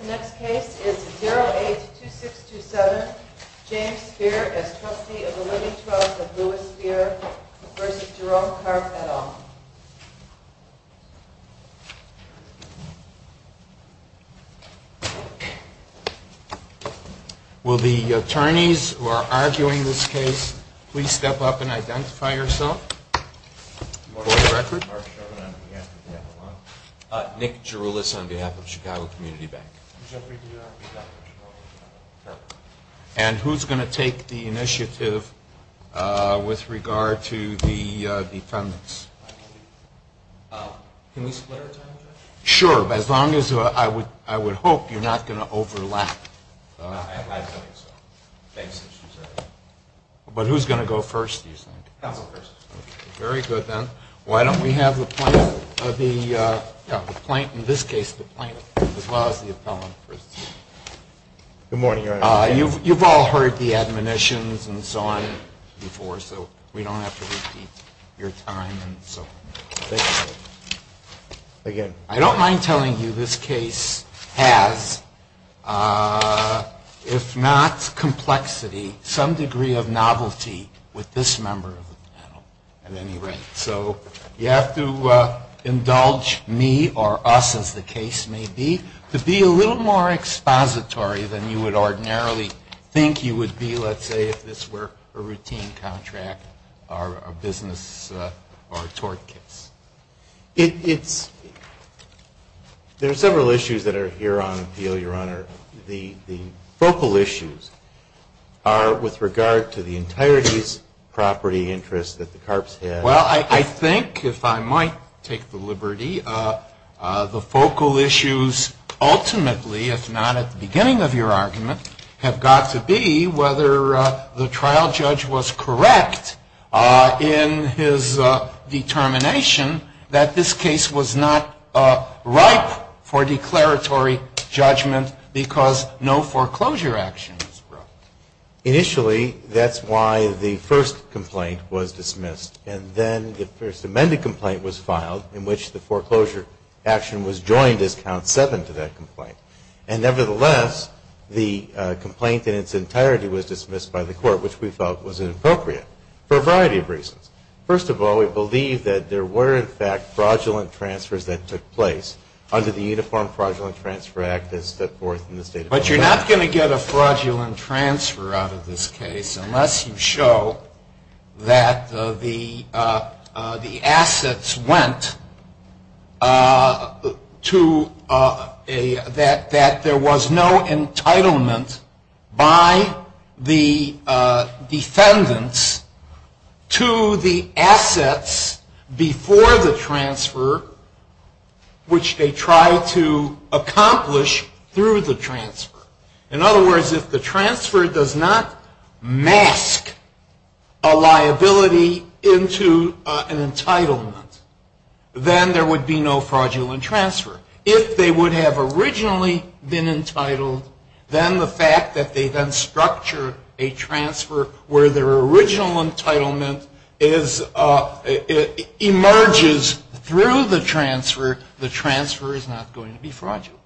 The next case is 082627, James Spear v. Jerome Karp et al. Will the attorneys who are arguing this case please step up and identify yourself. For the record. Nick Jeroulis on behalf of Chicago Community Bank. And who's going to take the initiative with regard to the defendants? Sure, as long as I would hope you're not going to overlap. But who's going to go first, do you think? Counsel first. Very good then. Why don't we have the plaintiff, in this case the plaintiff, as well as the appellant. Good morning, Your Honor. You've all heard the admonitions and so on before, so we don't have to repeat your time. Again, I don't mind telling you this case has, if not complexity, some degree of novelty with this member of the panel. At any rate, so you have to indulge me or us as the case may be, to be a little more expository than you would ordinarily think you would be, let's say if this were a routine contract or a business or tort case. There are several issues that are here on appeal, Your Honor. The focal issues are with regard to the entirety's property interest that the Carps had. Well, I think, if I might take the liberty, the focal issues ultimately, if not at the beginning of your argument, have got to be whether the trial judge was correct in his determination that this case was not ripe for declaratory judgment because no foreclosure action was brought. Initially, that's why the first complaint was dismissed. And then the first amended complaint was filed in which the foreclosure action was joined as count seven to that complaint. And, nevertheless, the complaint in its entirety was dismissed by the court, which we felt was inappropriate for a variety of reasons. First of all, we believe that there were, in fact, fraudulent transfers that took place under the Uniform Fraudulent Transfer Act as set forth in the State of California. But you're not going to get a fraudulent transfer out of this case unless you show that the assets went to that there was no entitlement by the defendants to the assets before the transfer which they tried to accomplish through the transfer. In other words, if the transfer does not mask a liability into an entitlement, then there would be no fraudulent transfer. If they would have originally been entitled, then the fact that they then structured a transfer where their original entitlement is emerges through the transfer, the transfer is not going to be fraudulent.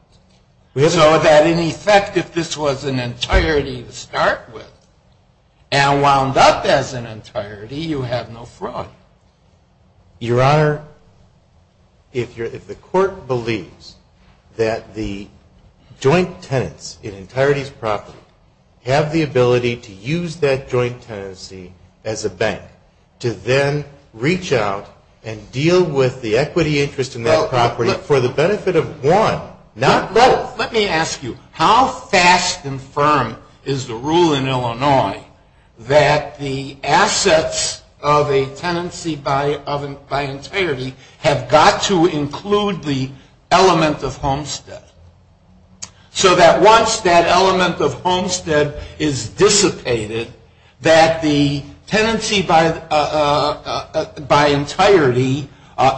So that, in effect, if this was an entirety to start with and wound up as an entirety, you have no fraud. Your Honor, if the court believes that the joint tenants in entirety's property have the ability to use that joint tenancy as a bank to then reach out and deal with the equity interest in that property for the benefit of one, not both. Let me ask you, how fast and firm is the rule in Illinois that the assets of a tenancy by entirety have got to include the element of homestead? So that once that element of homestead is dissipated, that the tenancy by entirety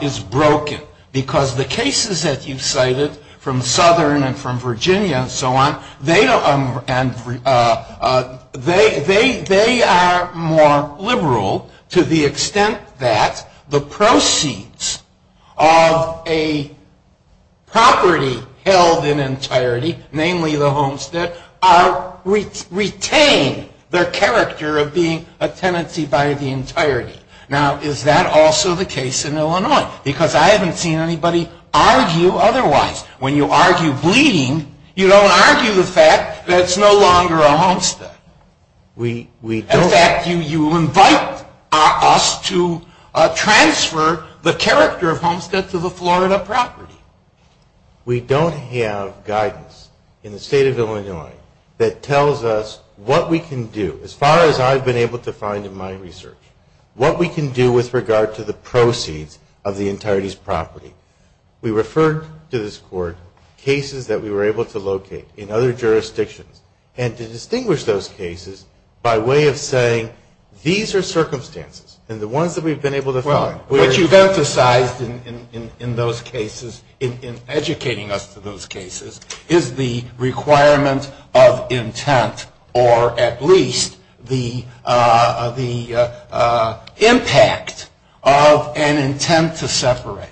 is broken. Because the cases that you've cited from Southern and from Virginia and so on, they are more liberal to the extent that the proceeds of a property held in entirety, namely the homestead, retain their character of being a tenancy by the entirety. Now, is that also the case in Illinois? Because I haven't seen anybody argue otherwise. When you argue bleeding, you don't argue the fact that it's no longer a homestead. In fact, you invite us to transfer the character of homestead to the Florida property. We don't have guidance in the state of Illinois that tells us what we can do. As far as I've been able to find in my research, what we can do with regard to the proceeds of the entirety's property. We referred to this Court cases that we were able to locate in other jurisdictions and to distinguish those cases by way of saying, these are circumstances and the ones that we've been able to find. What you've emphasized in those cases, in educating us to those cases, is the requirement of intent or at least the impact of an intent to separate.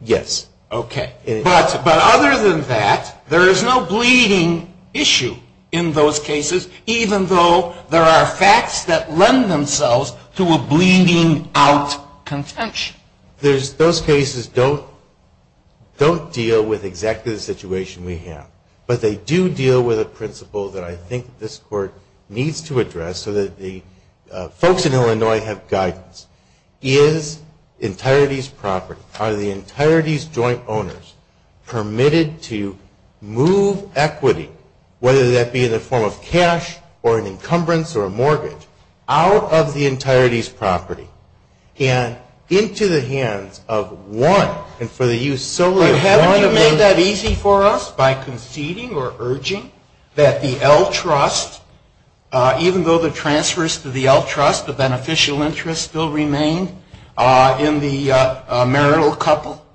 Yes. But other than that, there is no bleeding issue in those cases, even though there are facts that lend themselves to a bleeding out contention. Those cases don't deal with exactly the situation we have. But they do deal with a principle that I think this Court needs to address so that the folks in Illinois have guidance. Is entirety's property, are the entirety's joint owners permitted to move equity, whether that be in the form of cash or an encumbrance or a mortgage, out of the entirety's property and into the hands of one and for the use solely of one of those. Is that easy for us by conceding or urging that the L Trust, even though the transfers to the L Trust, the beneficial interest still remain in the marital couple?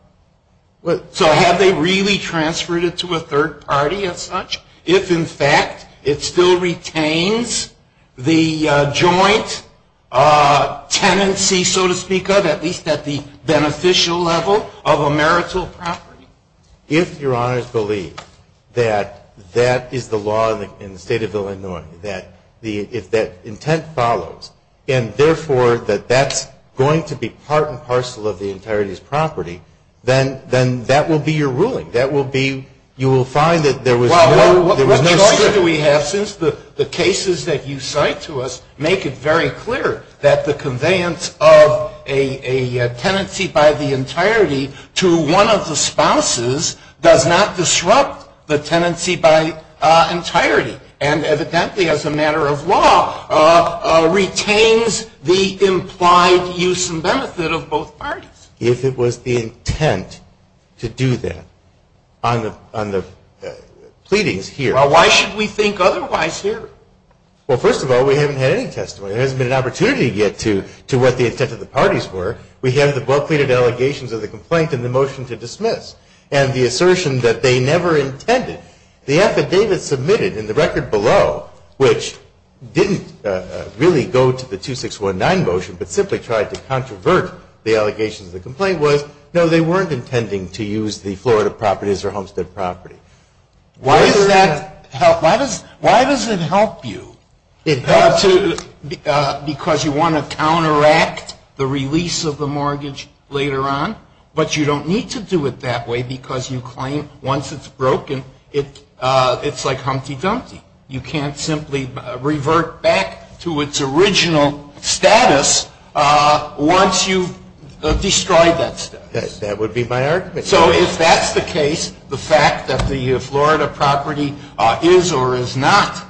So have they really transferred it to a third party as such? If, in fact, it still retains the joint tenancy, so to speak of, at least at the beneficial level of a marital property? If Your Honors believe that that is the law in the State of Illinois, that if that intent follows and, therefore, that that's going to be part and parcel of the So what choice do we have since the cases that you cite to us make it very clear that the conveyance of a tenancy by the entirety to one of the spouses does not disrupt the tenancy by entirety. And, evidently, as a matter of law, retains the implied use and benefit of both parties. If it was the intent to do that on the pleadings here. Well, why should we think otherwise here? Well, first of all, we haven't had any testimony. There hasn't been an opportunity yet to what the intent of the parties were. We have the well-pleaded allegations of the complaint and the motion to dismiss and the assertion that they never intended. The affidavit submitted in the record below, which didn't really go to the 2619 motion, but simply tried to controvert the allegations of the complaint, was, no, they weren't intending to use the Florida properties or Homestead property. Why does that help? Why does it help you? Because you want to counteract the release of the mortgage later on, but you don't need to do it that way because you claim once it's broken, it's like Humpty Dumpty. You can't simply revert back to its original status once you've destroyed that status. That would be my argument. So if that's the case, the fact that the Florida property is or is not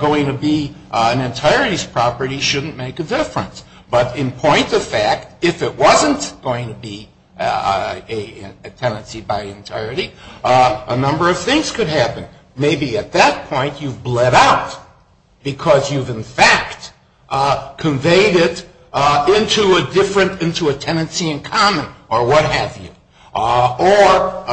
going to be an entirety's property shouldn't make a difference. But in point of fact, if it wasn't going to be a tenancy by entirety, a number of things could happen. Maybe at that point you've bled out because you've in fact conveyed it into a different, into a tenancy in common or what have you. Or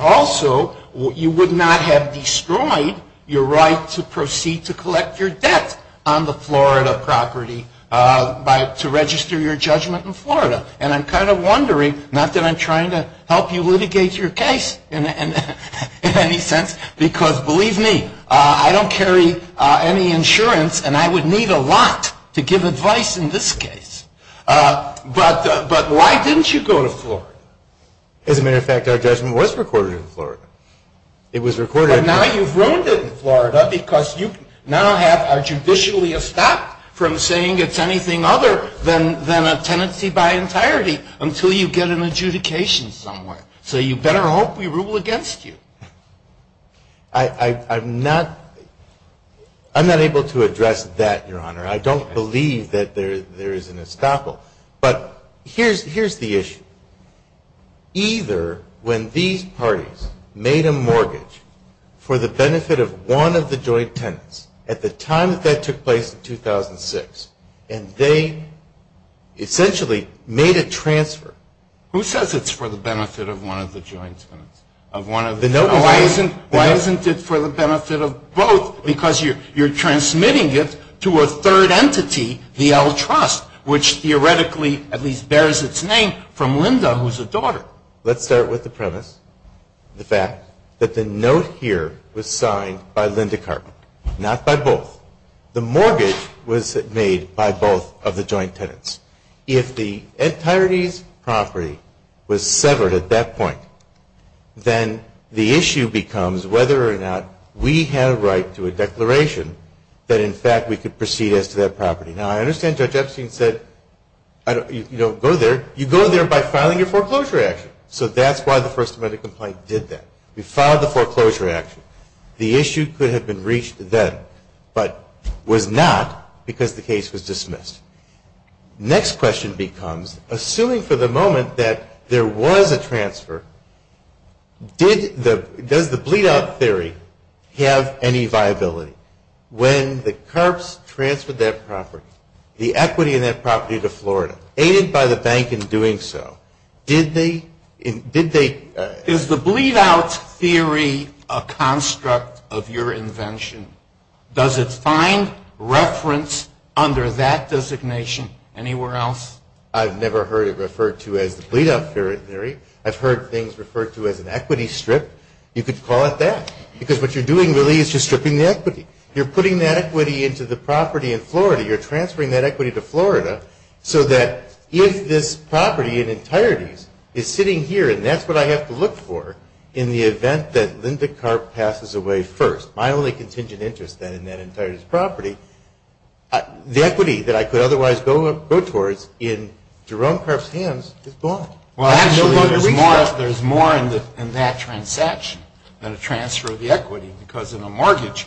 also, you would not have destroyed your right to proceed to collect your debt on the Florida property to register your judgment in Florida. And I'm kind of wondering, not that I'm trying to help you litigate your case in any sense, because believe me, I don't carry any insurance and I would need a lot to give advice in this case. But why didn't you go to Florida? As a matter of fact, our judgment was recorded in Florida. It was recorded in Florida. But now you've ruined it in Florida because you now have a judicially estopped from saying it's anything other than a tenancy by entirety until you get an adjudication somewhere. So you better hope we rule against you. I'm not able to address that, Your Honor. I don't believe that there is an estoppel. But here's the issue. Either when these parties made a mortgage for the benefit of one of the joint tenants at the time that that took place in 2006 and they essentially made a transfer. Who says it's for the benefit of one of the joint tenants? Why isn't it for the benefit of both? Because you're transmitting it to a third entity, the L Trust, which theoretically at least bears its name from Linda, who's a daughter. Let's start with the premise, the fact that the note here was signed by Linda Carpenter, not by both. The mortgage was made by both of the joint tenants. If the entirety's property was severed at that point, then the issue becomes whether or not we had a right to a declaration that in fact we could proceed as to that property. Now, I understand Judge Epstein said you don't go there. You go there by filing your foreclosure action. So that's why the First Amendment complaint did that. We filed the foreclosure action. The issue could have been reached then, but was not because the case was dismissed. Next question becomes, assuming for the moment that there was a transfer, does the bleed-out theory have any viability? When the Carps transferred that property, the equity in that property to Florida, aided by the bank in doing so, did they? Is the bleed-out theory a construct of your invention? Does it find reference under that designation anywhere else? I've never heard it referred to as the bleed-out theory. I've heard things referred to as an equity strip. You could call it that because what you're doing really is just stripping the equity. You're putting that equity into the property in Florida. You're transferring that equity to Florida so that if this property in entirety is sitting here, and that's what I have to look for in the event that Linda Carp passes away first, my only contingent interest then in that entirety's property, the equity that I could otherwise go towards in Jerome Carp's hands is gone. Well, actually, there's more in that transaction than a transfer of the equity because in a mortgage,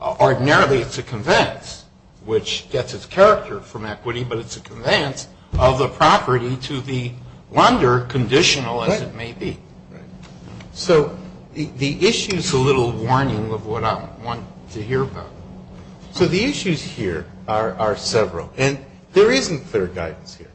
ordinarily it's a conveyance, which gets its character from equity, but it's a conveyance of the property to the lender, conditional as it may be. So the issue is a little warning of what I want to hear about. So the issues here are several, and there isn't clear guidance here.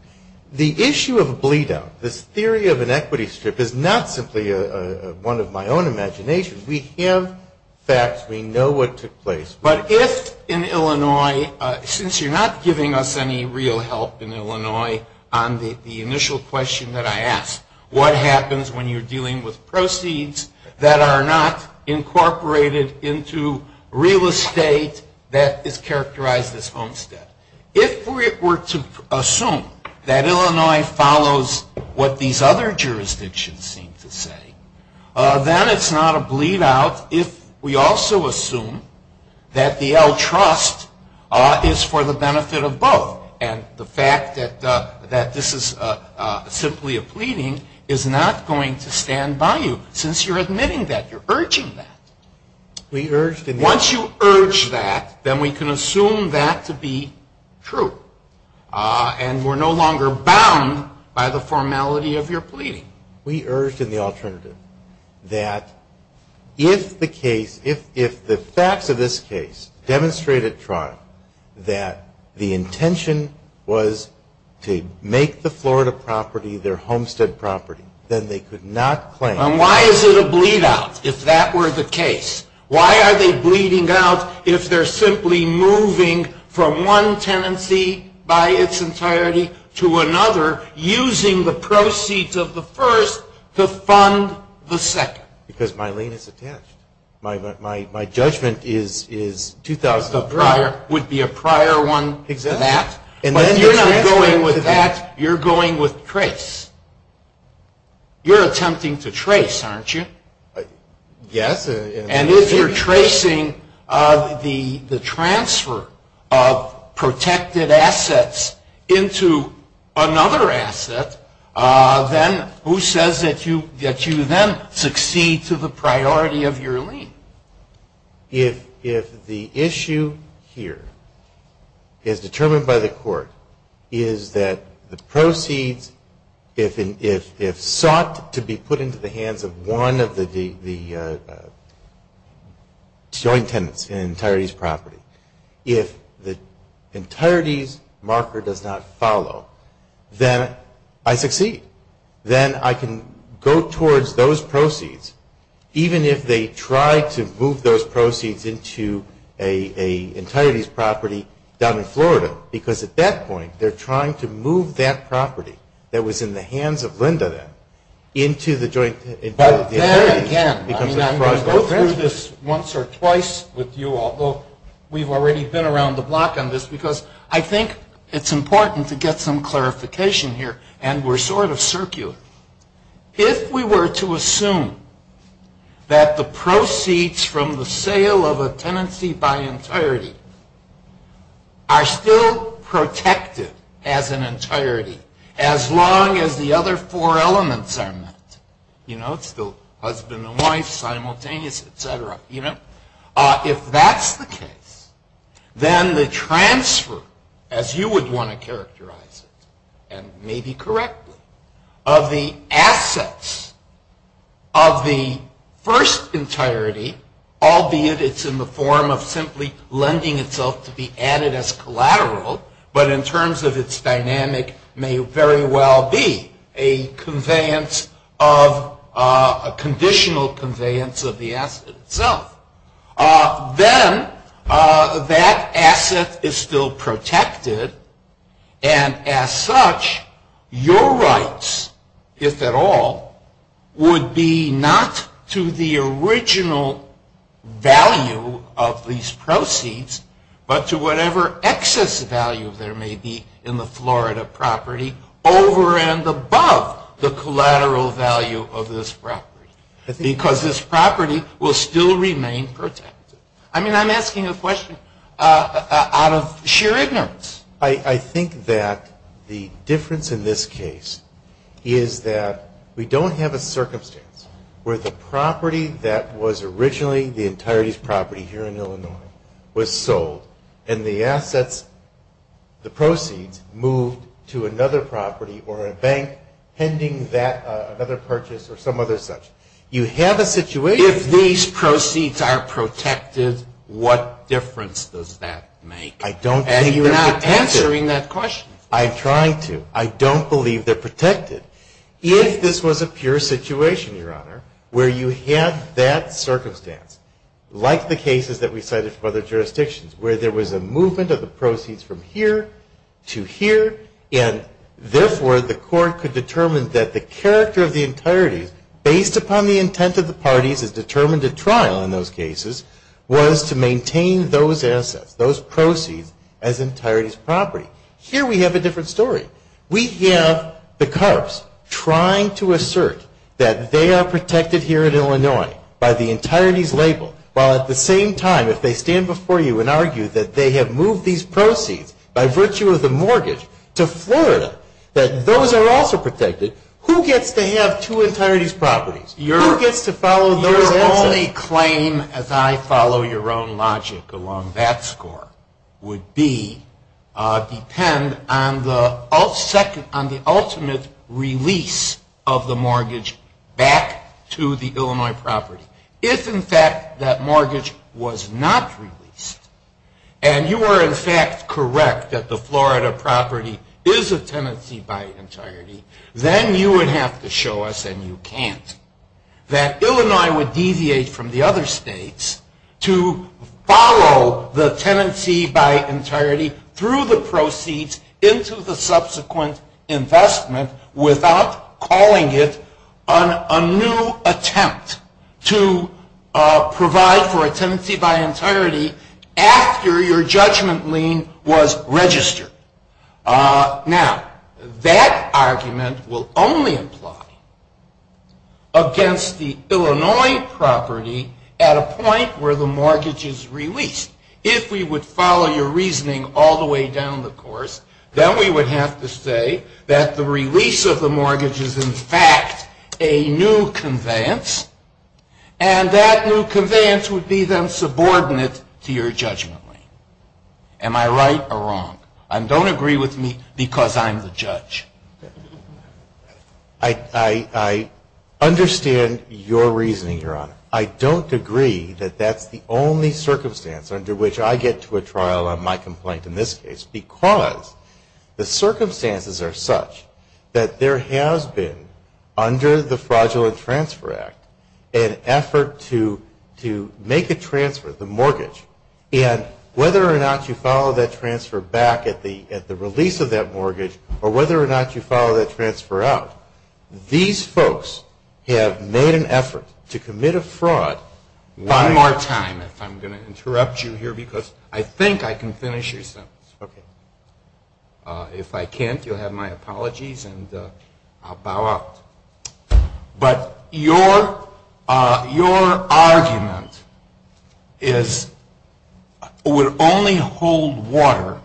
The issue of a bleed-out, this theory of an equity strip, is not simply one of my own imaginations. We have facts. We know what took place. But if in Illinois, since you're not giving us any real help in Illinois on the initial question that I asked, what happens when you're dealing with proceeds that are not incorporated into real estate that is characterized as homestead? If we were to assume that Illinois follows what these other jurisdictions seem to say, then it's not a bleed-out if we also assume that the L Trust is for the benefit of both. And the fact that this is simply a pleading is not going to stand by you since you're admitting that, you're urging that. Once you urge that, then we can assume that to be true. And we're no longer bound by the formality of your pleading. We urged in the alternative that if the case, if the facts of this case demonstrate at trial that the intention was to make the Florida property their homestead property, then they could not claim. Why is it a bleed-out if that were the case? Why are they bleeding out if they're simply moving from one tenancy by its entirety to another, using the proceeds of the first to fund the second? Because my lien is attached. My judgment is 2000 of prior would be a prior one to that. But if you're not going with that, you're going with trace. You're attempting to trace, aren't you? Yes. And if you're tracing the transfer of protected assets into another asset, then who says that you then succeed to the priority of your lien? If the issue here is determined by the court is that the proceeds, if sought to be put into the hands of one of the joint tenants in an entirety's property, if the entirety's marker does not follow, then I succeed. Then I can go towards those proceeds, even if they try to move those proceeds into an entirety's property down in Florida, because at that point they're trying to move that property that was in the hands of Linda then into the joint. But then again, I mean, I'm going to go through this once or twice with you all. Well, we've already been around the block on this, because I think it's important to get some clarification here, and we're sort of circular. If we were to assume that the proceeds from the sale of a tenancy by entirety are still protected as an entirety as long as the other four elements are met, it's still husband and wife, simultaneous, et cetera. If that's the case, then the transfer, as you would want to characterize it, and maybe correctly, of the assets of the first entirety, albeit it's in the form of simply lending itself to be added as collateral, but in terms of its dynamic may very well be a conveyance of, a conditional conveyance of the asset itself. Then that asset is still protected, and as such, your rights, if at all, would be not to the original value of these proceeds, but to whatever excess value there may be in the Florida property over and above the collateral value of this property, because this property will still remain protected. I mean, I'm asking a question out of sheer ignorance. I think that the difference in this case is that we don't have a circumstance where the property that was originally the entirety's property here in Illinois was sold, and the assets, the proceeds moved to another property or a bank pending another purchase or some other such. You have a situation. If these proceeds are protected, what difference does that make? I don't think they're protected. And you're not answering that question. I'm trying to. I don't believe they're protected. If this was a pure situation, Your Honor, where you had that circumstance, like the cases that we cited from other jurisdictions, where there was a movement of the proceeds from here to here, and therefore the court could determine that the character of the entirety, based upon the intent of the parties as determined at trial in those cases, was to maintain those assets, those proceeds, as entirety's property. Here we have a different story. We have the cops trying to assert that they are protected here in Illinois by the entirety's label, while at the same time, if they stand before you and argue that they have moved these proceeds by virtue of the mortgage to Florida, that those are also protected, who gets to have two entirety's properties? Who gets to follow those assets? The claim, as I follow your own logic along that score, would be depend on the ultimate release of the mortgage back to the Illinois property. If, in fact, that mortgage was not released, and you are, in fact, correct that the Florida property is a tenancy by entirety, then you would have to show us, and you can't, that Illinois would deviate from the other states to follow the tenancy by entirety through the proceeds into the subsequent investment without calling it a new attempt to provide for a tenancy by entirety after your judgment lien was registered. Now, that argument will only apply against the Illinois property at a point where the mortgage is released. If we would follow your reasoning all the way down the course, then we would have to say that the release of the mortgage is, in fact, a new conveyance, and that new conveyance would be then subordinate to your judgment lien. Am I right or wrong? Don't agree with me because I'm the judge. I understand your reasoning, Your Honor. I don't agree that that's the only circumstance under which I get to a trial on my complaint in this case because the circumstances are such that there has been, under the Fraudulent Transfer Act, an effort to make a transfer, the mortgage, and whether or not you follow that transfer back at the release of that mortgage or whether or not you follow that transfer out, these folks have made an effort to commit a fraud. One more time, if I'm going to interrupt you here because I think I can finish your sentence. Okay. If I can't, you'll have my apologies, and I'll bow out. But your argument is, would only hold water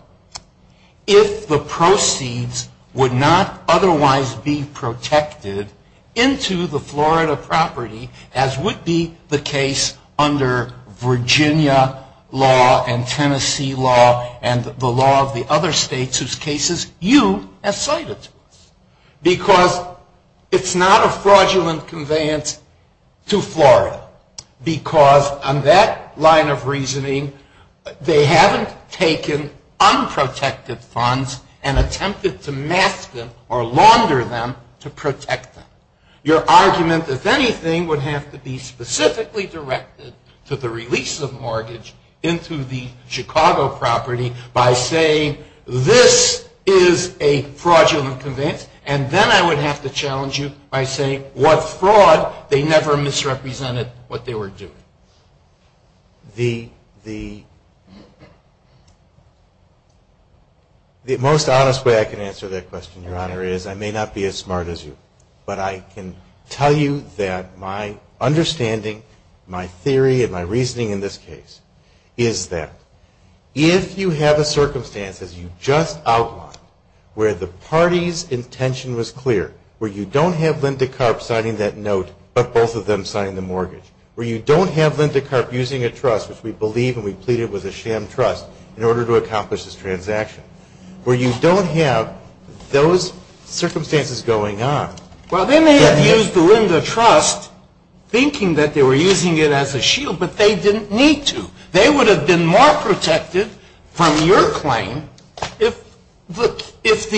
if the proceeds would not otherwise be protected into the Florida property as would be the case under Virginia law and Tennessee law and the law of the other states whose cases you have cited. Because it's not a fraudulent conveyance to Florida. Because on that line of reasoning, they haven't taken unprotected funds and attempted to mask them or launder them to protect them. Your argument, if anything, would have to be specifically directed to the release of mortgage into the Chicago property by saying, this is a fraudulent conveyance, and then I would have to challenge you by saying, what fraud? They never misrepresented what they were doing. The most honest way I can answer that question, Your Honor, is I may not be as smart as you, but I can tell you that my understanding, my theory, and my reasoning in this case, is that if you have a circumstance, as you just outlined, where the party's intention was clear, where you don't have Linda Karp signing that note, but both of them signed the mortgage, where you don't have Linda Karp using a trust, which we believe and we plead it was a sham trust, in order to accomplish this transaction, where you don't have those circumstances going on. Well, they may have used the Linda trust thinking that they were using it as a shield, but they didn't need to. They would have been more protected from your claim if both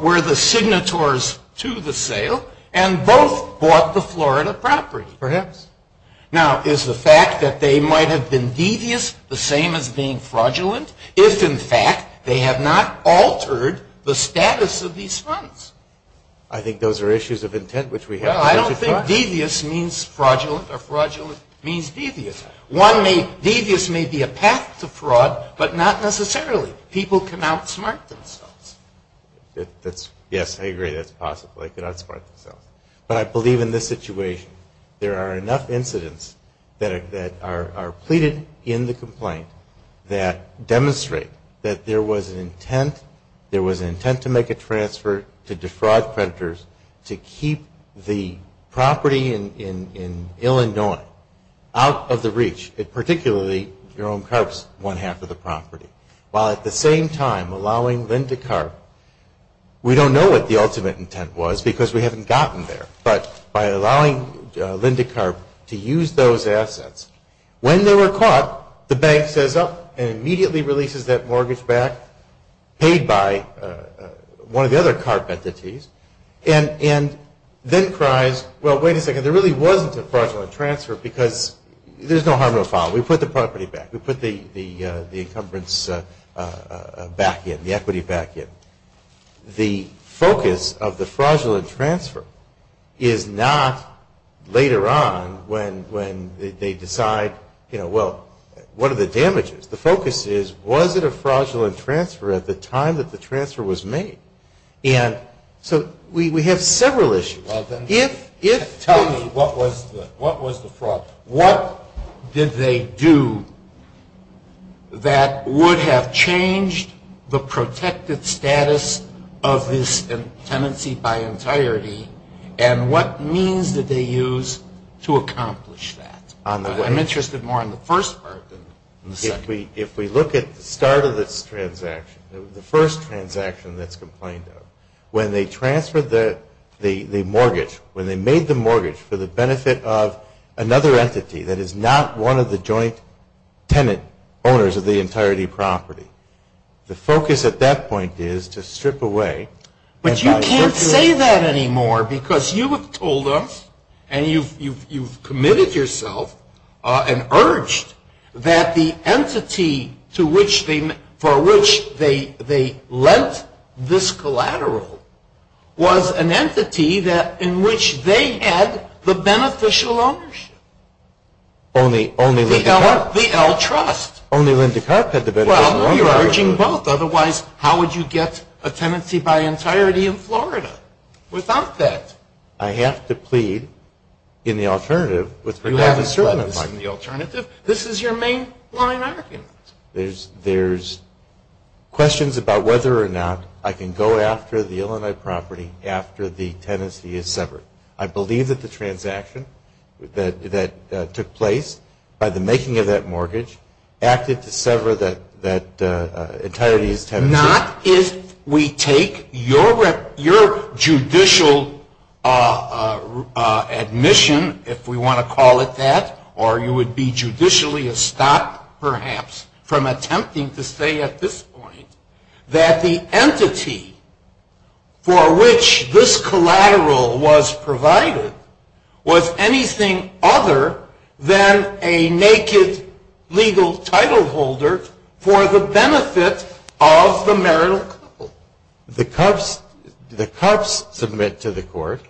were the signatories to the sale and both bought the Florida property. Perhaps. Now, is the fact that they might have been devious the same as being fraudulent? If, in fact, they have not altered the status of these funds? I think those are issues of intent, which we have to work across. Well, I don't think devious means fraudulent or fraudulent means devious. Devious may be a path to fraud, but not necessarily. People can outsmart themselves. Yes, I agree. That's possible. They can outsmart themselves. But I believe in this situation there are enough incidents that are pleaded in the complaint that demonstrate that there was an intent to make a transfer to defraud creditors to keep the property in Illinois out of the reach, particularly Jerome Karp's one half of the property, while at the same time allowing Linda Karp. We don't know what the ultimate intent was because we haven't gotten there. But by allowing Linda Karp to use those assets, when they were caught, the bank says, oh, and immediately releases that mortgage back paid by one of the other Karp entities and then cries, well, wait a second, there really wasn't a fraudulent transfer because there's no harm in the fall. We put the property back. We put the encumbrance back in, the equity back in. The focus of the fraudulent transfer is not later on when they decide, you know, well, what are the damages? The focus is was it a fraudulent transfer at the time that the transfer was made? And so we have several issues. Tell me, what was the fraud? What did they do that would have changed the protected status of this tenancy by entirety and what means did they use to accomplish that? I'm interested more in the first part than the second. If we look at the start of this transaction, the first transaction that's complained of, when they transferred the mortgage, when they made the mortgage for the benefit of another entity that is not one of the joint tenant owners of the entirety property, the focus at that point is to strip away. But you can't say that anymore because you have told us And you've committed yourself and urged that the entity for which they lent this collateral was an entity in which they had the beneficial ownership. Only Lynda Karp. The L Trust. Only Lynda Karp had the beneficial ownership. Well, you're urging both. Otherwise, how would you get a tenancy by entirety in Florida without that? I have to plead in the alternative. You have to plead in the alternative? This is your main line argument. There's questions about whether or not I can go after the Illinois property after the tenancy is severed. I believe that the transaction that took place by the making of that mortgage acted to sever that entirety tenancy. Not if we take your judicial admission, if we want to call it that, or you would be judicially estopped, perhaps, from attempting to say at this point that the entity for which this collateral was provided was anything other than a naked legal title holder for the benefit of the marital couple. The Karp's submit to the court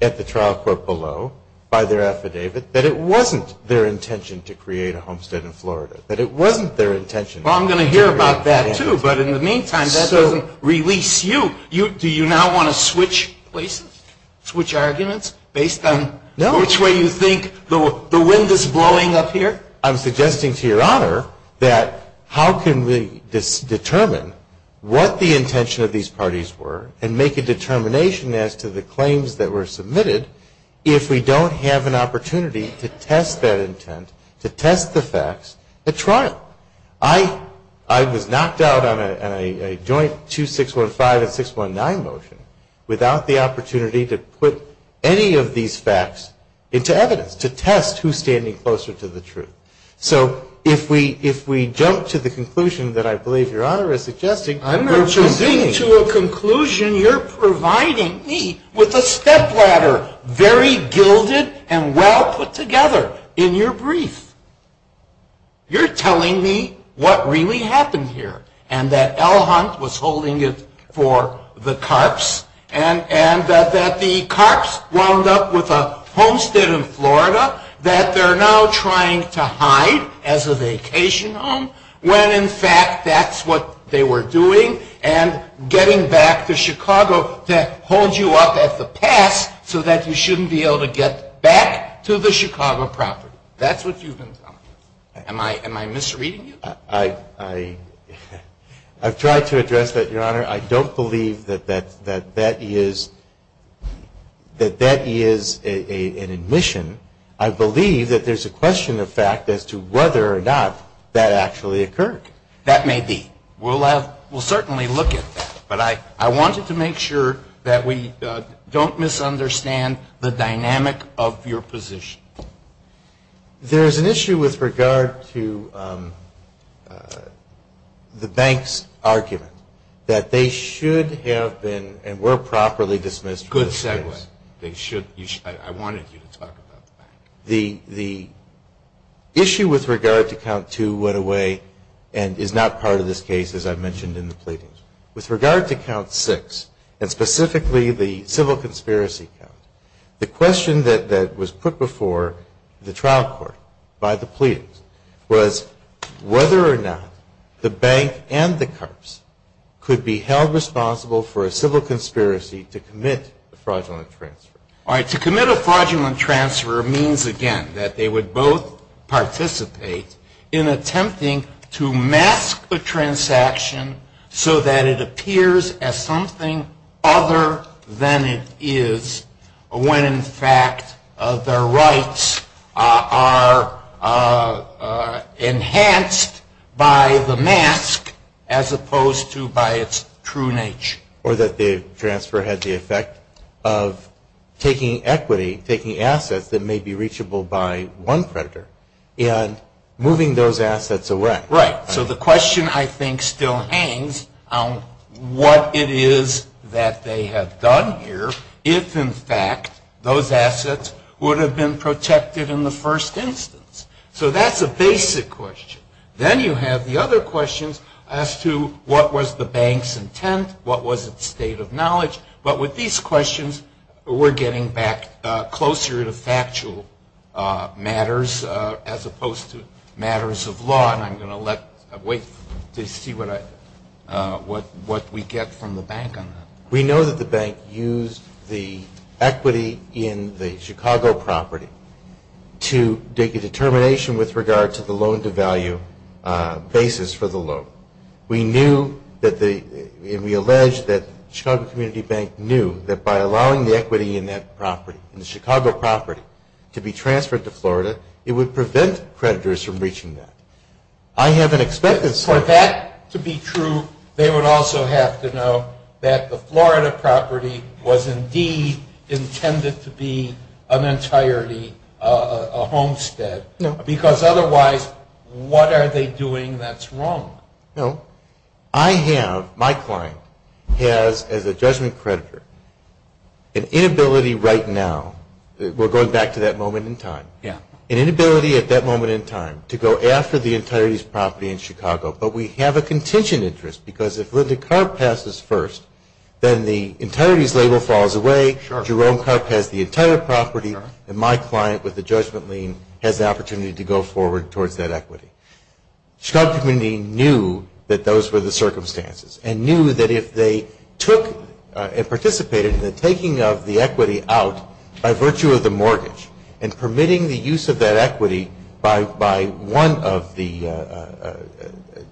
at the trial court below by their affidavit that it wasn't their intention to create a homestead in Florida. That it wasn't their intention. Well, I'm going to hear about that, too. But in the meantime, that doesn't release you. Do you now want to switch places? Switch arguments based on which way you think the wind is blowing up here? I'm suggesting to your Honor that how can we determine what the intention of these parties were and make a determination as to the claims that were submitted if we don't have an opportunity to test that intent, to test the facts, at trial. I was knocked out on a joint 2615 and 619 motion without the opportunity to put any of these facts into evidence, to test who's standing closer to the truth. So if we jump to the conclusion that I believe your Honor is suggesting, we're choosing to a conclusion you're providing me with a stepladder very gilded and well put together in your brief. You're telling me what really happened here and that L Hunt was holding it for the carps and that the carps wound up with a homestead in Florida that they're now trying to hide as a vacation home when in fact that's what they were doing and getting back to Chicago to hold you up at the pass so that you shouldn't be able to get back to the Chicago property. That's what you've been telling me. Am I misreading you? I've tried to address that, your Honor. I don't believe that that is an admission. I believe that there's a question of fact as to whether or not that actually occurred. That may be. We'll certainly look at that. But I wanted to make sure that we don't misunderstand the dynamic of your position. There's an issue with regard to the bank's argument that they should have been and were properly dismissed from the case. Good segue. I wanted you to talk about that. The issue with regard to Count Two went away and is not part of this case as I've mentioned in the pleadings. With regard to Count Six and specifically the civil conspiracy count, the question that was put before the trial court by the pleadings was whether or not the bank and the Karps could be held responsible for a civil conspiracy to commit a fraudulent transfer. All right. To commit a fraudulent transfer means, again, that they would both participate in attempting to mask a transaction so that it appears as something other than it is when, in fact, their rights are enhanced by the mask as opposed to by its true nature. Or that the transfer had the effect of taking equity, taking assets that may be reachable by one creditor, and moving those assets away. Right. So the question, I think, still hangs on what it is that they have done here if, in fact, those assets would have been protected in the first instance. So that's a basic question. Then you have the other questions as to what was the bank's intent, what was its state of knowledge. But with these questions, we're getting back closer to factual matters as opposed to matters of law. And I'm going to wait to see what we get from the bank on that. We know that the bank used the equity in the Chicago property to make a determination with regard to the loan-to-value basis for the loan. We knew that the – and we allege that Chicago Community Bank knew that by allowing the equity in that property, in the Chicago property, to be transferred to Florida, it would prevent creditors from reaching that. I have an expectation. For that to be true, they would also have to know that the Florida property was indeed intended to be an entirety, a homestead. No. Because otherwise, what are they doing that's wrong? No. I have – my client has, as a judgment creditor, an inability right now. We're going back to that moment in time. Yeah. An inability at that moment in time to go after the entirety's property in Chicago. But we have a contingent interest because if Linda Karp passes first, then the entirety's label falls away. Sure. Jerome Karp has the entire property. Sure. And my client, with the judgment lien, has the opportunity to go forward towards that equity. Chicago Community knew that those were the circumstances and knew that if they took and participated in the taking of the equity out by virtue of the mortgage and permitting the use of that equity by one of the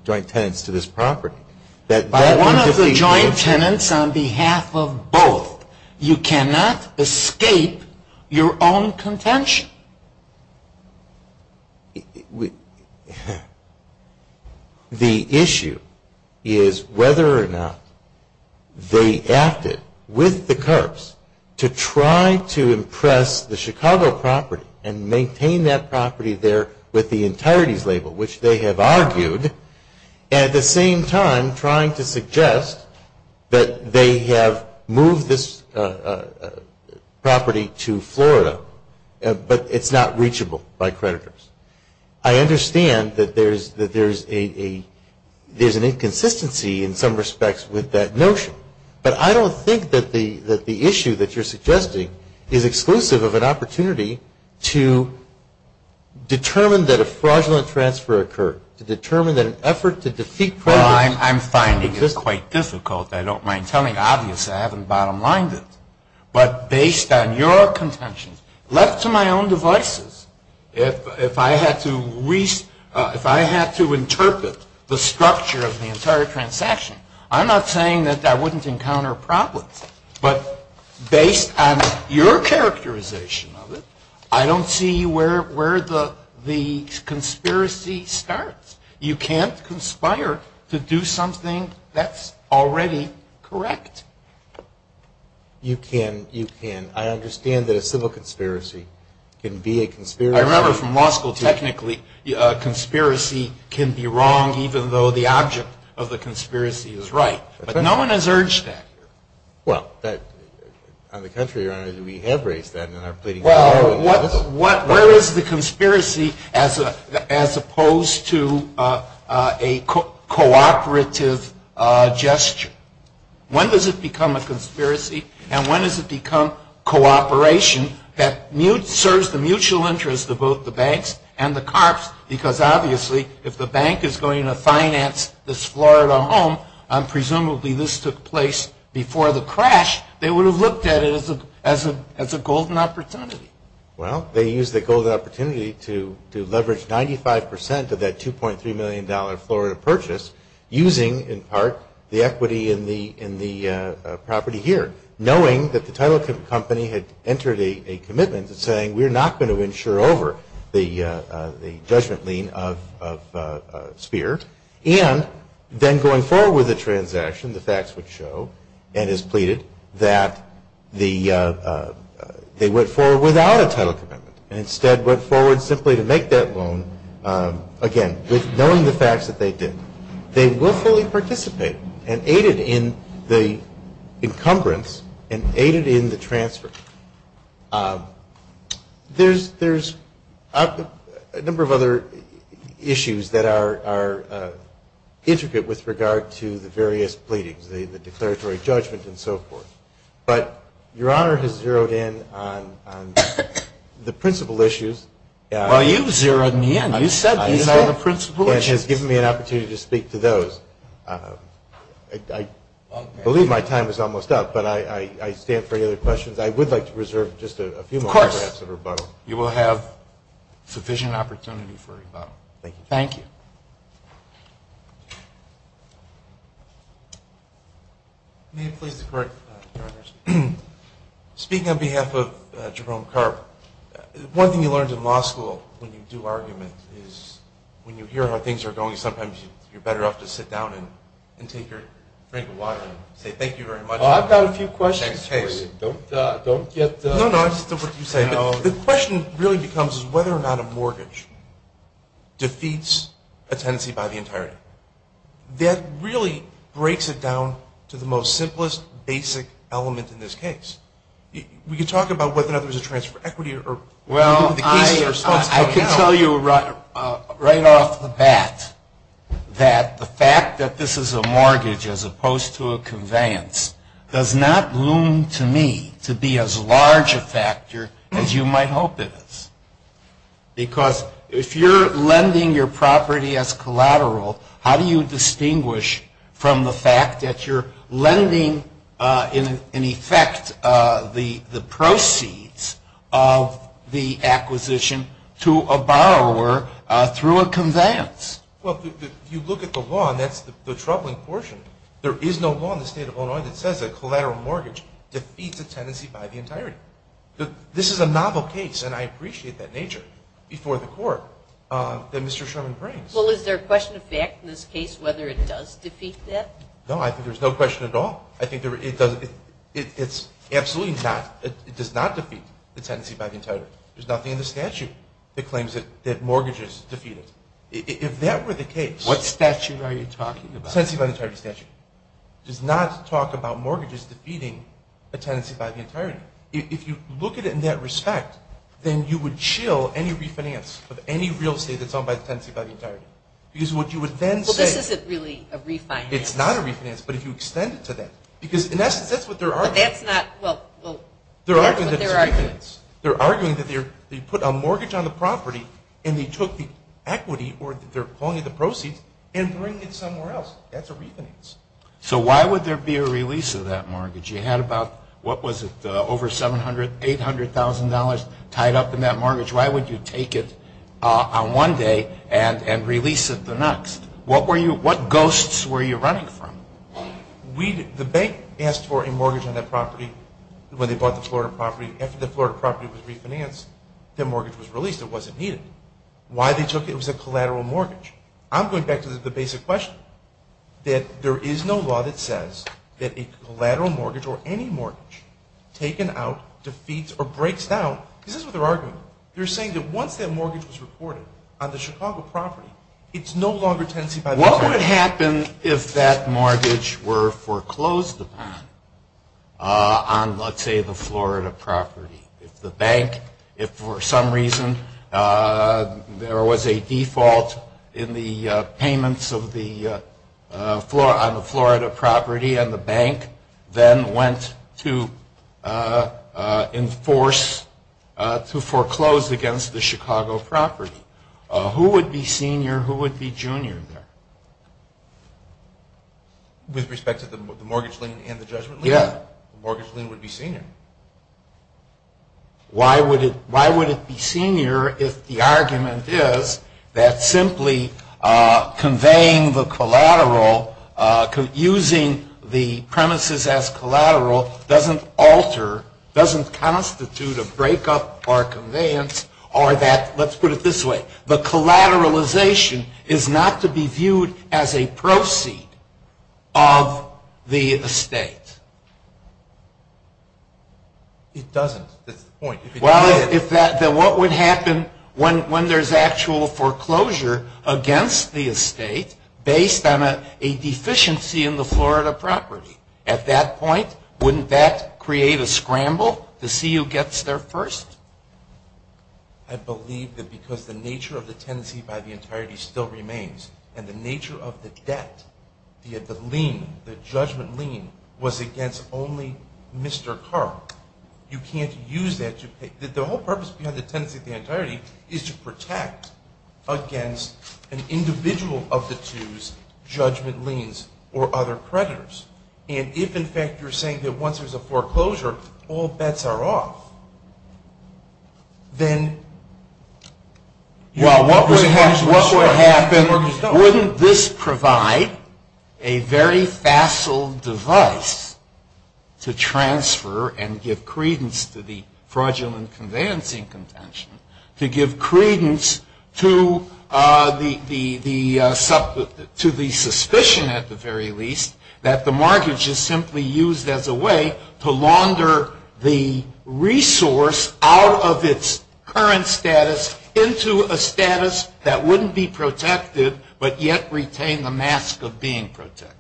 joint tenants to this property, that that would be – By one of the joint tenants on behalf of both. You cannot escape your own contention. The issue is whether or not they acted with the Karps to try to impress the Chicago property and maintain that property there with the entirety's label, which they have argued, and at the same time trying to suggest that they have moved this property to Florida. But it's not reachable by creditors. I understand that there's an inconsistency in some respects with that notion. But I don't think that the issue that you're suggesting is exclusive of an opportunity to determine that a fraudulent transfer occurred, to determine that an effort to defeat progress Well, I'm finding it quite difficult. I don't mind telling. Obviously, I haven't bottom lined it. But based on your contention, left to my own devices, if I had to interpret the structure of the entire transaction, I'm not saying that I wouldn't encounter problems. But based on your characterization of it, I don't see where the conspiracy starts. You can't conspire to do something that's already correct. You can. You can. I understand that a civil conspiracy can be a conspiracy. I remember from law school, technically, a conspiracy can be wrong, even though the object of the conspiracy is right. But no one has urged that here. Well, on the contrary, Your Honor, we have raised that in our pleading. Well, where is the conspiracy as opposed to a cooperative gesture? When does it become a conspiracy, and when does it become cooperation that serves the mutual interest of both the banks and the cops? Because obviously, if the bank is going to finance this Florida home, this took place before the crash, they would have looked at it as a golden opportunity. Well, they used the golden opportunity to leverage 95% of that $2.3 million Florida purchase, using, in part, the equity in the property here, knowing that the title company had entered a commitment saying, we're not going to insure over the judgment lien of Speer. And then going forward with the transaction, the facts would show, and as pleaded, that they went forward without a title commitment and instead went forward simply to make that loan, again, knowing the facts that they did. They willfully participated and aided in the encumbrance and aided in the transfer. There's a number of other issues that are intricate with regard to the various pleadings, the declaratory judgment and so forth. But Your Honor has zeroed in on the principal issues. Well, you've zeroed me in. You said these were the principal issues. And has given me an opportunity to speak to those. I believe my time is almost up, but I stand for any other questions. I would like to reserve just a few moments, perhaps, for rebuttal. Of course. You will have sufficient opportunity for rebuttal. Thank you. Thank you. May it please the Court, Your Honor. Speaking on behalf of Jerome Carp, one thing you learned in law school when you do arguments is, when you hear how things are going, sometimes you're better off to sit down and take your drink of water and say thank you very much. Well, I've got a few questions for you. No, no, I understand what you're saying. The question really becomes whether or not a mortgage defeats a tenancy by the entirety. That really breaks it down to the most simplest basic element in this case. We could talk about whether or not there's a transfer of equity. Well, I can tell you right off the bat that the fact that this is a mortgage as opposed to a conveyance, does not loom to me to be as large a factor as you might hope it is. Because if you're lending your property as collateral, how do you distinguish from the fact that you're lending, in effect, the proceeds of the acquisition to a borrower through a conveyance? Well, if you look at the law, and that's the troubling portion, there is no law in the state of Illinois that says a collateral mortgage defeats a tenancy by the entirety. This is a novel case, and I appreciate that nature, before the Court that Mr. Sherman brings. Well, is there a question of fact in this case whether it does defeat that? No, I think there's no question at all. I think it does absolutely not defeat the tenancy by the entirety. There's nothing in the statute that claims that mortgages defeat it. If that were the case… What statute are you talking about? The tenancy by the entirety statute. It does not talk about mortgages defeating a tenancy by the entirety. If you look at it in that respect, then you would chill any refinance of any real estate that's owned by the tenancy by the entirety. Because what you would then say… Well, this isn't really a refinance. It's not a refinance, but if you extend it to that. Because, in essence, that's what they're arguing. But that's not… well, that's what they're arguing. They're arguing that they put a mortgage on the property, and they took the equity or they're pulling the proceeds and bring it somewhere else. That's a refinance. So why would there be a release of that mortgage? You had about, what was it, over $700,000, $800,000 tied up in that mortgage. Why would you take it on one day and release it the next? What ghosts were you running from? The bank asked for a mortgage on that property when they bought the Florida property. After the Florida property was refinanced, their mortgage was released. It wasn't needed. Why they took it was a collateral mortgage. I'm going back to the basic question, that there is no law that says that a collateral mortgage or any mortgage taken out defeats or breaks down. This is what they're arguing. They're saying that once that mortgage was reported on the Chicago property, it's no longer tenancy by the… What would happen if that mortgage were foreclosed upon on, let's say, the Florida property? If the bank, if for some reason there was a default in the payments on the Florida property and the bank then went to enforce, to foreclose against the Chicago property? Who would be senior? Who would be junior there? With respect to the mortgage lien and the judgment lien? Yeah. Mortgage lien would be senior. Why would it be senior if the argument is that simply conveying the collateral, using the premises as collateral doesn't alter, doesn't constitute a breakup or conveyance, or that, let's put it this way, the collateralization is not to be viewed as a proceed of the estate? It doesn't. That's the point. Well, then what would happen when there's actual foreclosure against the estate based on a deficiency in the Florida property? At that point, wouldn't that create a scramble to see who gets there first? I believe that because the nature of the tenancy by the entirety still remains and the nature of the debt, the lien, the judgment lien, was against only Mr. Carl. You can't use that to pay. The whole purpose behind the tenancy by the entirety is to protect against an individual of the twos, judgment liens, or other creditors. And if, in fact, you're saying that once there's a foreclosure, all bets are off, then you have to work as one. Well, what would happen, wouldn't this provide a very facile device to transfer and give credence to the fraudulent conveyancing contention, to give credence to the suspicion, at the very least, that the mortgage is simply used as a way to launder the resource out of its current status into a status that wouldn't be protected, but yet retain the mask of being protected?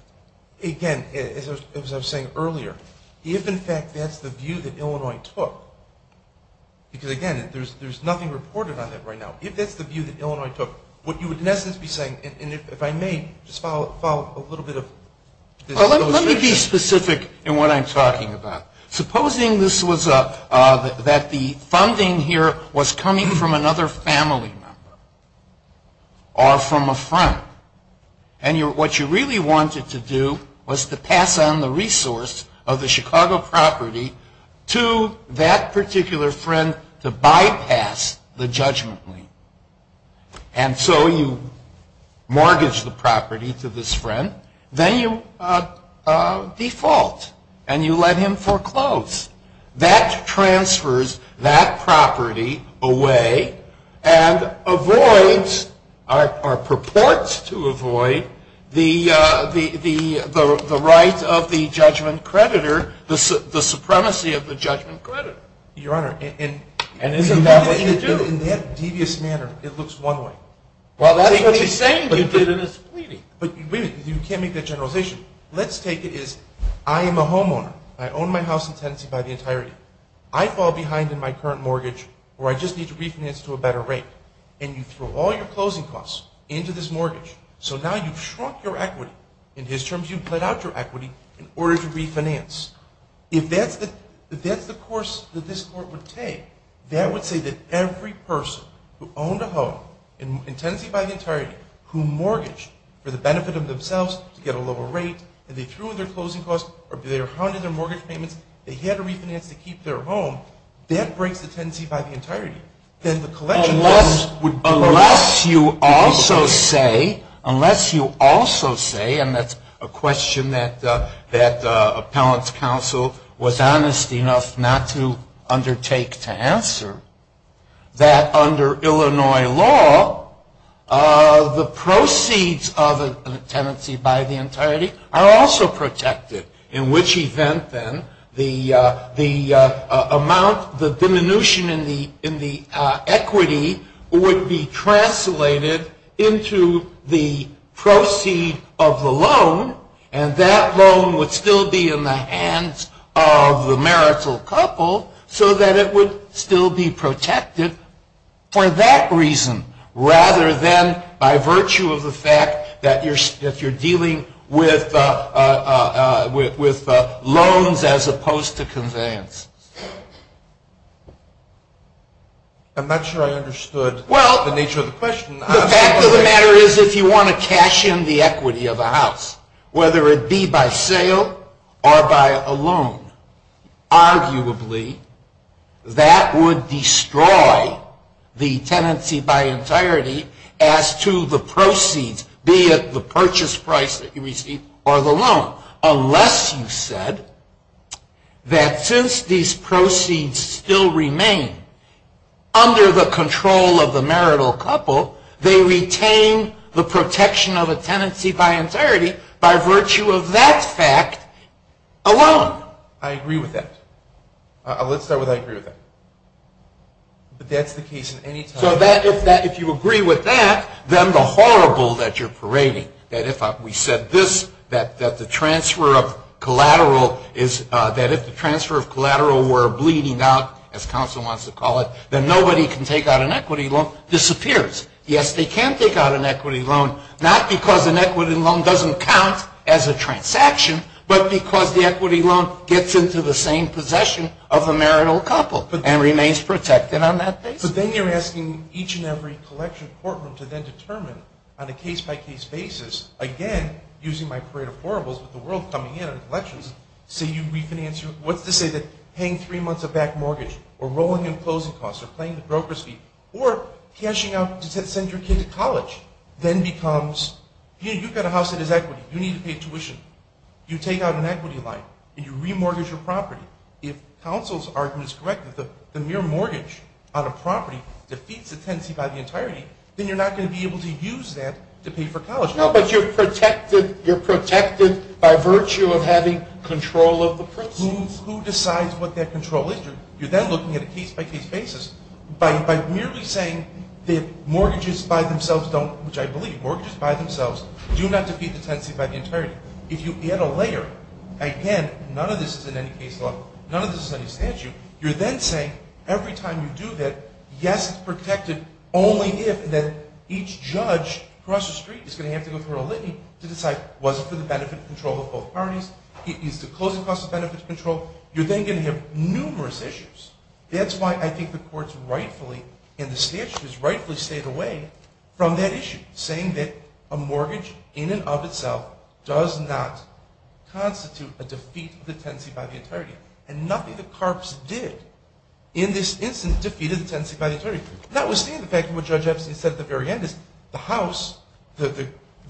Again, as I was saying earlier, if, in fact, that's the view that Illinois took, because, again, there's nothing reported on that right now, if that's the view that Illinois took, what you would, in essence, be saying, and if I may, just follow up a little bit of this illustration. Well, let me be specific in what I'm talking about. Supposing this was that the funding here was coming from another family member or from a friend, and what you really wanted to do was to pass on the resource of the Chicago property to that particular friend to bypass the judgment. And so you mortgage the property to this friend. Then you default, and you let him foreclose. That transfers that property away and avoids or purports to avoid the right of the judgment creditor, the supremacy of the judgment creditor. Your Honor, in that devious manner, it looks one way. Well, that's what he's saying. But you can't make that generalization. Let's take it as I am a homeowner. I own my house in tenancy by the entirety. I fall behind in my current mortgage, or I just need to refinance to a better rate. And you throw all your closing costs into this mortgage. So now you've shrunk your equity. In his terms, you've let out your equity in order to refinance. If that's the course that this Court would take, that would say that every person who owned a home in tenancy by the entirety, who mortgaged for the benefit of themselves to get a lower rate, and they threw in their closing costs or they hounded their mortgage payments, they had to refinance to keep their home, that breaks the tenancy by the entirety. Unless you also say, and that's a question that Appellant's Counsel was honest enough not to undertake to answer, that under Illinois law, the proceeds of a tenancy by the entirety are also protected. In which event, then, the amount, the diminution in the equity would be translated into the proceed of the loan, and that loan would still be in the hands of the marital couple, so that it would still be protected for that reason, rather than by virtue of the fact that you're dealing with loans as opposed to conveyance. I'm not sure I understood the nature of the question. The fact of the matter is, if you want to cash in the equity of a house, whether it be by sale or by a loan, arguably that would destroy the tenancy by entirety as to the proceeds, be it the purchase price that you receive or the loan. Unless you said that since these proceeds still remain under the control of the marital couple, they retain the protection of a tenancy by entirety by virtue of that fact alone. I agree with that. Let's start with I agree with that. But that's the case in any time. So if you agree with that, then the horrible that you're parading, that if we said this, that if the transfer of collateral were bleeding out, as counsel wants to call it, then nobody can take out an equity loan, disappears. Yes, they can take out an equity loan, not because an equity loan doesn't count as a transaction, but because the equity loan gets into the same possession of a marital couple and remains protected on that basis. So then you're asking each and every collection courtroom to then determine on a case-by-case basis, again, using my parade of horribles with the world coming in on collections, say you refinance your, what's to say that paying three months of back mortgage or rolling in closing costs or paying the broker's fee or cashing out to send your kid to college then becomes, you know, you've got a house that is equity. You need to pay tuition. You take out an equity line and you remortgage your property. If counsel's argument is correct that the mere mortgage on a property defeats the tenancy by the entirety, then you're not going to be able to use that to pay for college. No, but you're protected by virtue of having control of the proceeds. Who decides what that control is? You're then looking at a case-by-case basis by merely saying that mortgages by themselves don't, which I believe, mortgages by themselves do not defeat the tenancy by the entirety. If you add a layer, again, none of this is in any case law, none of this is any statute, you're then saying every time you do that, yes, it's protected, only if then each judge across the street is going to have to go through a litany to decide was it for the benefit control of both parties? Is the closing cost of benefits control? You're then going to have numerous issues. That's why I think the courts rightfully and the statutes rightfully stayed away from that issue, saying that a mortgage in and of itself does not constitute a defeat of the tenancy by the entirety, and nothing that CARPS did in this instance defeated the tenancy by the entirety. Notwithstanding the fact that what Judge Epstein said at the very end is the house, the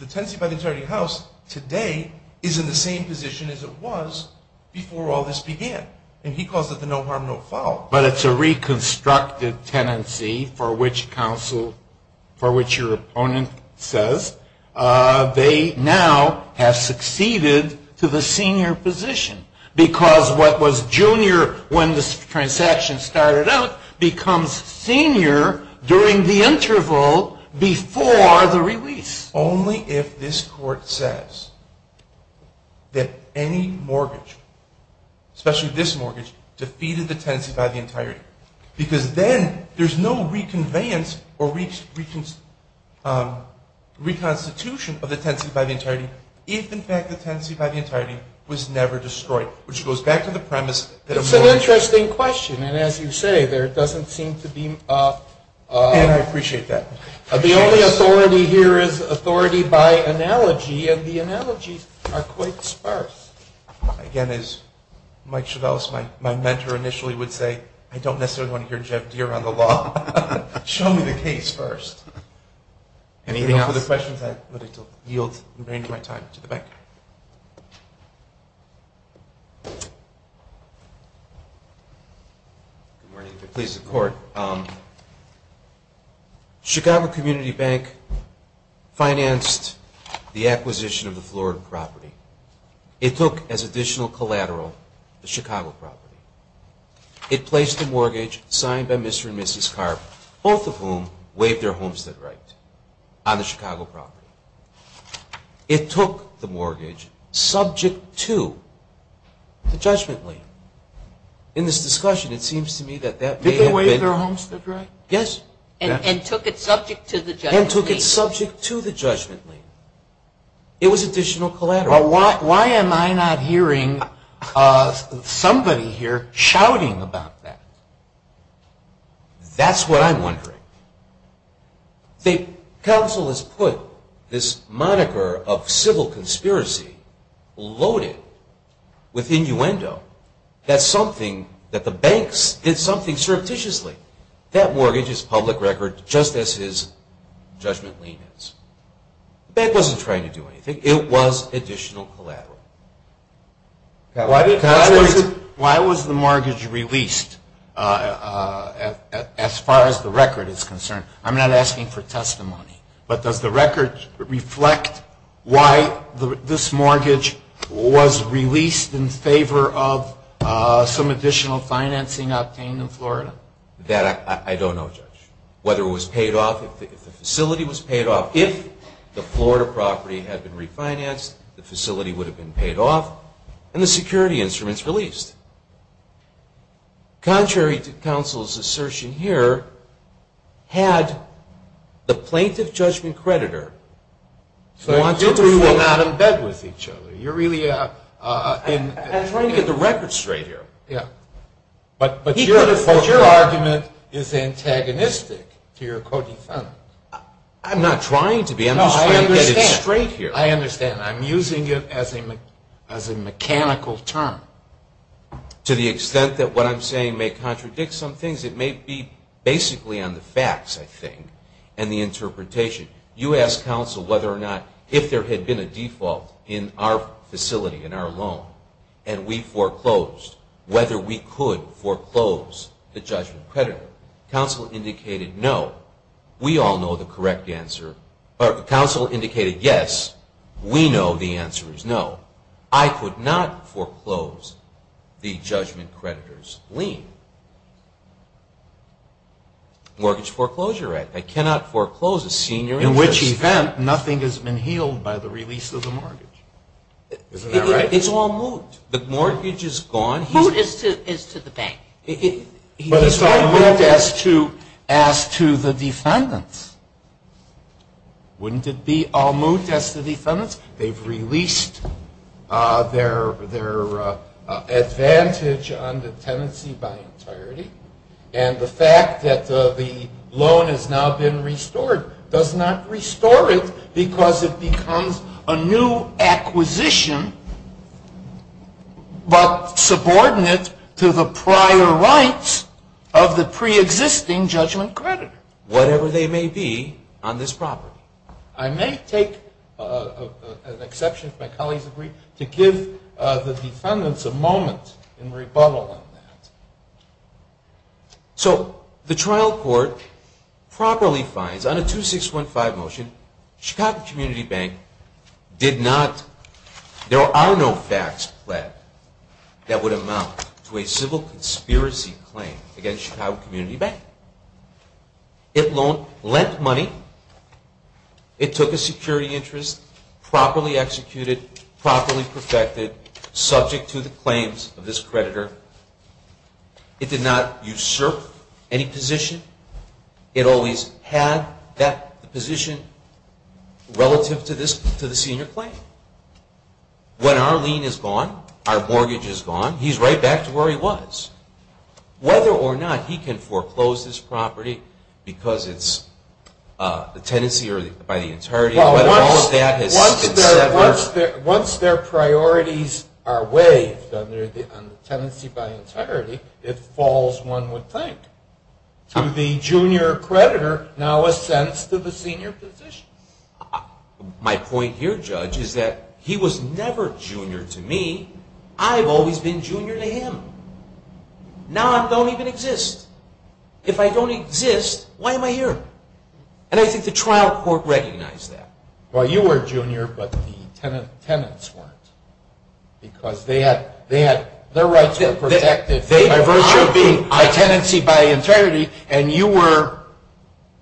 tenancy by the entirety house today is in the same position as it was before all this began, and he calls it the no harm, no fault. But it's a reconstructed tenancy for which counsel, for which your opponent says they now have succeeded to the senior position because what was junior when this transaction started out becomes senior during the interval before the release. Only if this court says that any mortgage, especially this mortgage, defeated the tenancy by the entirety, because then there's no reconveyance or reconstitution of the tenancy by the entirety if in fact the tenancy by the entirety was never destroyed, which goes back to the premise that a mortgage It's an interesting question, and as you say, there doesn't seem to be And I appreciate that. The only authority here is authority by analogy, and the analogies are quite sparse. Again, as Mike should also, my mentor initially would say, I don't necessarily want to hear Jeff Deere on the law. Show me the case first. Anything else? For the questions, I yield and bring my time to the back. Good morning. Please support. Chicago Community Bank financed the acquisition of the Florida property. It took as additional collateral the Chicago property. It placed the mortgage signed by Mr. and Mrs. Carp, both of whom waived their homestead right, on the Chicago property. It took the mortgage subject to the judgment lien. In this discussion, it seems to me that that may have been Did they waive their homestead right? Yes. And took it subject to the judgment lien. And took it subject to the judgment lien. It was additional collateral. Well, why am I not hearing somebody here shouting about that? That's what I'm wondering. The council has put this moniker of civil conspiracy loaded with innuendo. That's something that the banks did something surreptitiously. That mortgage is public record just as his judgment lien is. The bank wasn't trying to do anything. It was additional collateral. Why was the mortgage released as far as the record is concerned? I'm not asking for testimony. But does the record reflect why this mortgage was released in favor of some additional financing obtained in Florida? That I don't know, Judge. Whether it was paid off, if the facility was paid off, if the Florida property had been refinanced, the facility would have been paid off, and the security instruments released. Contrary to counsel's assertion here, had the plaintiff-judgment creditor So the two of you are not in bed with each other. You're really in I'm trying to get the record straight here. But your argument is antagonistic to your co-defendant. I'm not trying to be. I'm just trying to get it straight here. I understand. I'm using it as a mechanical term. To the extent that what I'm saying may contradict some things, it may be basically on the facts, I think, and the interpretation. You asked counsel whether or not if there had been a default in our facility, in our loan, and we foreclosed, whether we could foreclose the judgment creditor. Counsel indicated no. We all know the correct answer. Counsel indicated yes. We know the answer is no. I could not foreclose the judgment creditor's lien. Mortgage Foreclosure Act. I cannot foreclose a senior interest. In which event, nothing has been healed by the release of the mortgage. Isn't that right? It's all moot. The mortgage is gone. Moot is to the bank. But it's all moot as to the defendants. Wouldn't it be all moot as to the defendants? They've released their advantage on the tenancy by entirety. And the fact that the loan has now been restored does not restore it because it becomes a new acquisition but subordinate to the prior rights of the preexisting judgment creditor. Whatever they may be on this property. I may take an exception, if my colleagues agree, to give the defendants a moment in rebuttal on that. So the trial court properly finds on a 2615 motion, Chicago Community Bank did not, there are no facts that would amount to a civil conspiracy claim against Chicago Community Bank. It lent money. It took a security interest. Properly executed. Properly perfected. Subject to the claims of this creditor. It did not usurp any position. It always had that position relative to the senior claim. When our lien is gone, our mortgage is gone, he's right back to where he was. Whether or not he can foreclose this property because it's a tenancy or by the entirety of it, Once their priorities are waived on the tenancy by entirety, it falls, one would think, to the junior creditor now a sense to the senior position. My point here, Judge, is that he was never junior to me. I've always been junior to him. Now I don't even exist. If I don't exist, why am I here? And I think the trial court recognized that. Well, you were junior, but the tenants weren't. Because their rights were protected by virtue of being a tenancy by entirety, and you were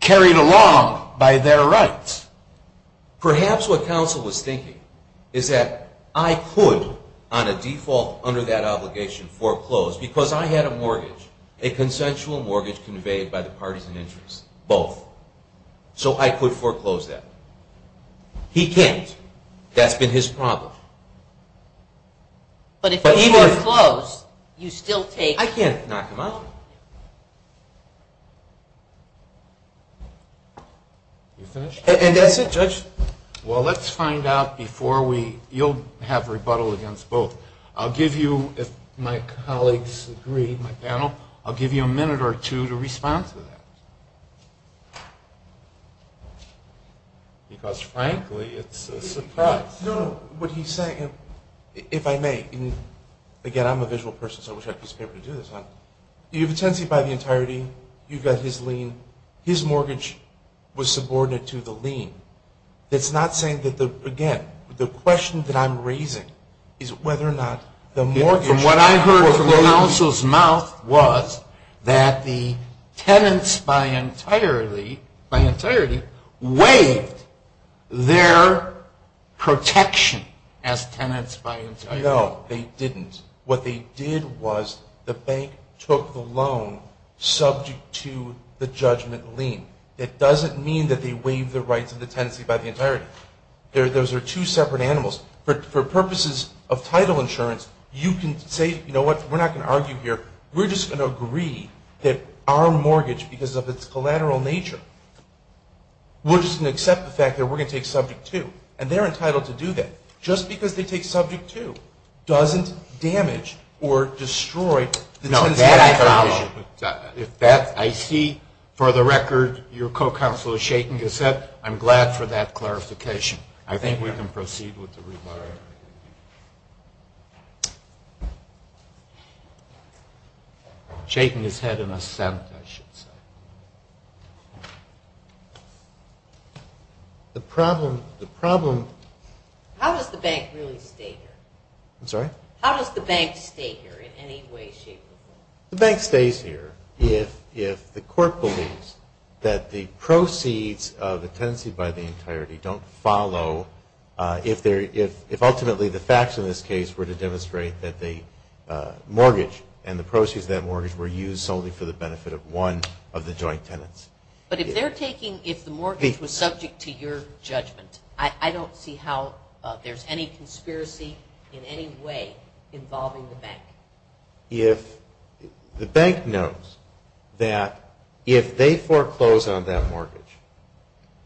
carried along by their rights. Perhaps what counsel was thinking is that I could, on a default under that obligation, foreclose, because I had a mortgage, a consensual mortgage conveyed by the parties in interest, both. So I could foreclose that. He can't. That's been his problem. But if you foreclose, you still take... I can't knock him out. And that's it, Judge. Well, let's find out before we... You'll have rebuttal against both. I'll give you, if my colleagues agree, my panel, I'll give you a minute or two to respond to that. Because, frankly, it's a surprise. No, no, what he's saying, if I may, and, again, I'm a visual person, so I wish I could just be able to do this. You have a tenancy by the entirety. You've got his lien. His mortgage was subordinate to the lien. It's not saying that the, again, the question that I'm raising is whether or not the mortgage... What I heard from the counsel's mouth was that the tenants by entirety waived their protection as tenants by entirety. No, they didn't. What they did was the bank took the loan subject to the judgment lien. It doesn't mean that they waived the rights of the tenancy by the entirety. Those are two separate animals. For purposes of title insurance, you can say, you know what, we're not going to argue here. We're just going to agree that our mortgage, because of its collateral nature, we're just going to accept the fact that we're going to take subject to. And they're entitled to do that. Just because they take subject to doesn't damage or destroy the tenancy by the entirety. If that, I see, for the record, your co-counsel is shaking his head, I'm glad for that clarification. I think we can proceed with the rebuttal. Shaking his head in assent, I should say. The problem, the problem... How does the bank really stay here? I'm sorry? How does the bank stay here in any way, shape, or form? The bank stays here if the court believes that the proceeds of the tenancy by the entirety don't follow, if ultimately the facts in this case were to demonstrate that the mortgage and the proceeds of that mortgage were used solely for the benefit of one of the joint tenants. But if they're taking, if the mortgage was subject to your judgment, I don't see how there's any conspiracy in any way involving the bank. If the bank knows that if they foreclose on that mortgage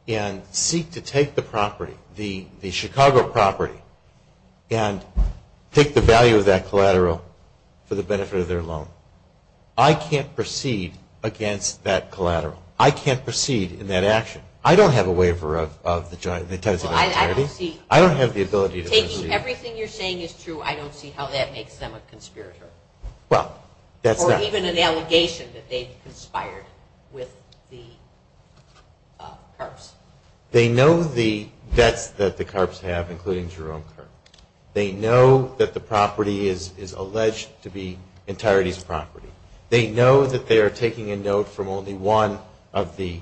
and seek to take the property, the Chicago property, and take the value of that collateral for the benefit of their loan, I can't proceed against that collateral. I can't proceed in that action. I don't have a waiver of the tenancy by the entirety. I don't have the ability to proceed. If everything you're saying is true, I don't see how that makes them a conspirator. Well, that's not... Or even an allegation that they've conspired with the CARPs. They know the debts that the CARPs have, including Jerome CARP. They know that the property is alleged to be entirety's property. They know that they are taking a note from only one of the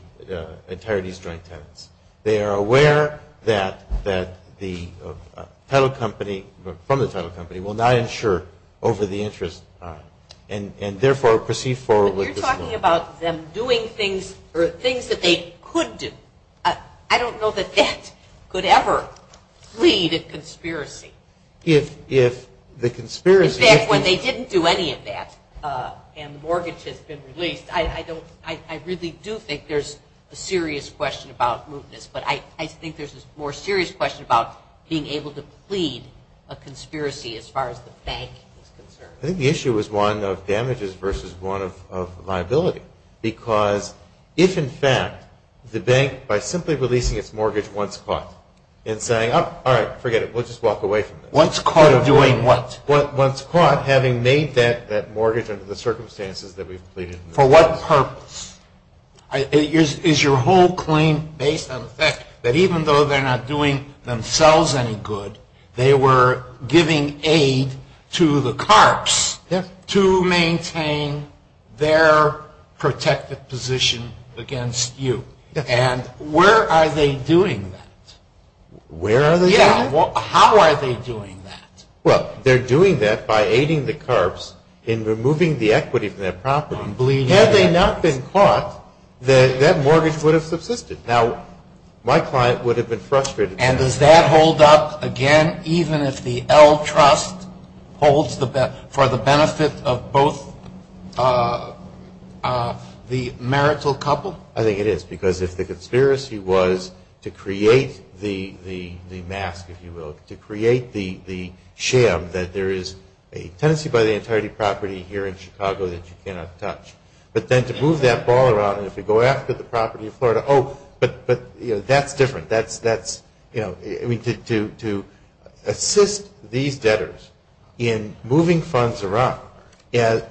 entirety's joint tenants. They are aware that the title company, from the title company, will not insure over the interest and, therefore, proceed forward with this loan. But you're talking about them doing things that they could do. I don't know that that could ever lead to conspiracy. If the conspiracy... In fact, when they didn't do any of that and the mortgage has been released, I really do think there's a serious question about mootness, but I think there's a more serious question about being able to plead a conspiracy as far as the bank is concerned. I think the issue is one of damages versus one of liability because if, in fact, the bank, by simply releasing its mortgage once caught and saying, oh, all right, forget it, we'll just walk away from this. Once caught doing what? Once caught having made that mortgage under the circumstances that we've pleaded. For what purpose? Is your whole claim based on the fact that even though they're not doing themselves any good, they were giving aid to the carps to maintain their protected position against you? Yes. And where are they doing that? Where are they doing it? How are they doing that? Well, they're doing that by aiding the carps in removing the equity from their property. Had they not been caught, that mortgage would have subsisted. Now, my client would have been frustrated. And does that hold up again even if the L Trust holds for the benefit of both the marital couple? I think it is because if the conspiracy was to create the mask, if you will, to create the sham that there is a tenancy by the entirety property here in Chicago that you cannot touch, but then to move that ball around and if you go after the property of Florida, oh, but that's different. That's, you know, to assist these debtors in moving funds around at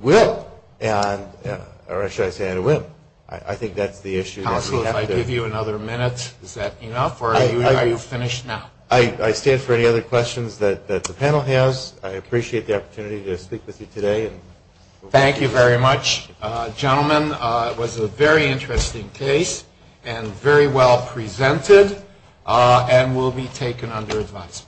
will, or should I say at a whim, I think that's the issue. Counsel, if I give you another minute, is that enough, or are you finished now? I stand for any other questions that the panel has. I appreciate the opportunity to speak with you today. Thank you very much, gentlemen. It was a very interesting case and very well presented and will be taken under advice.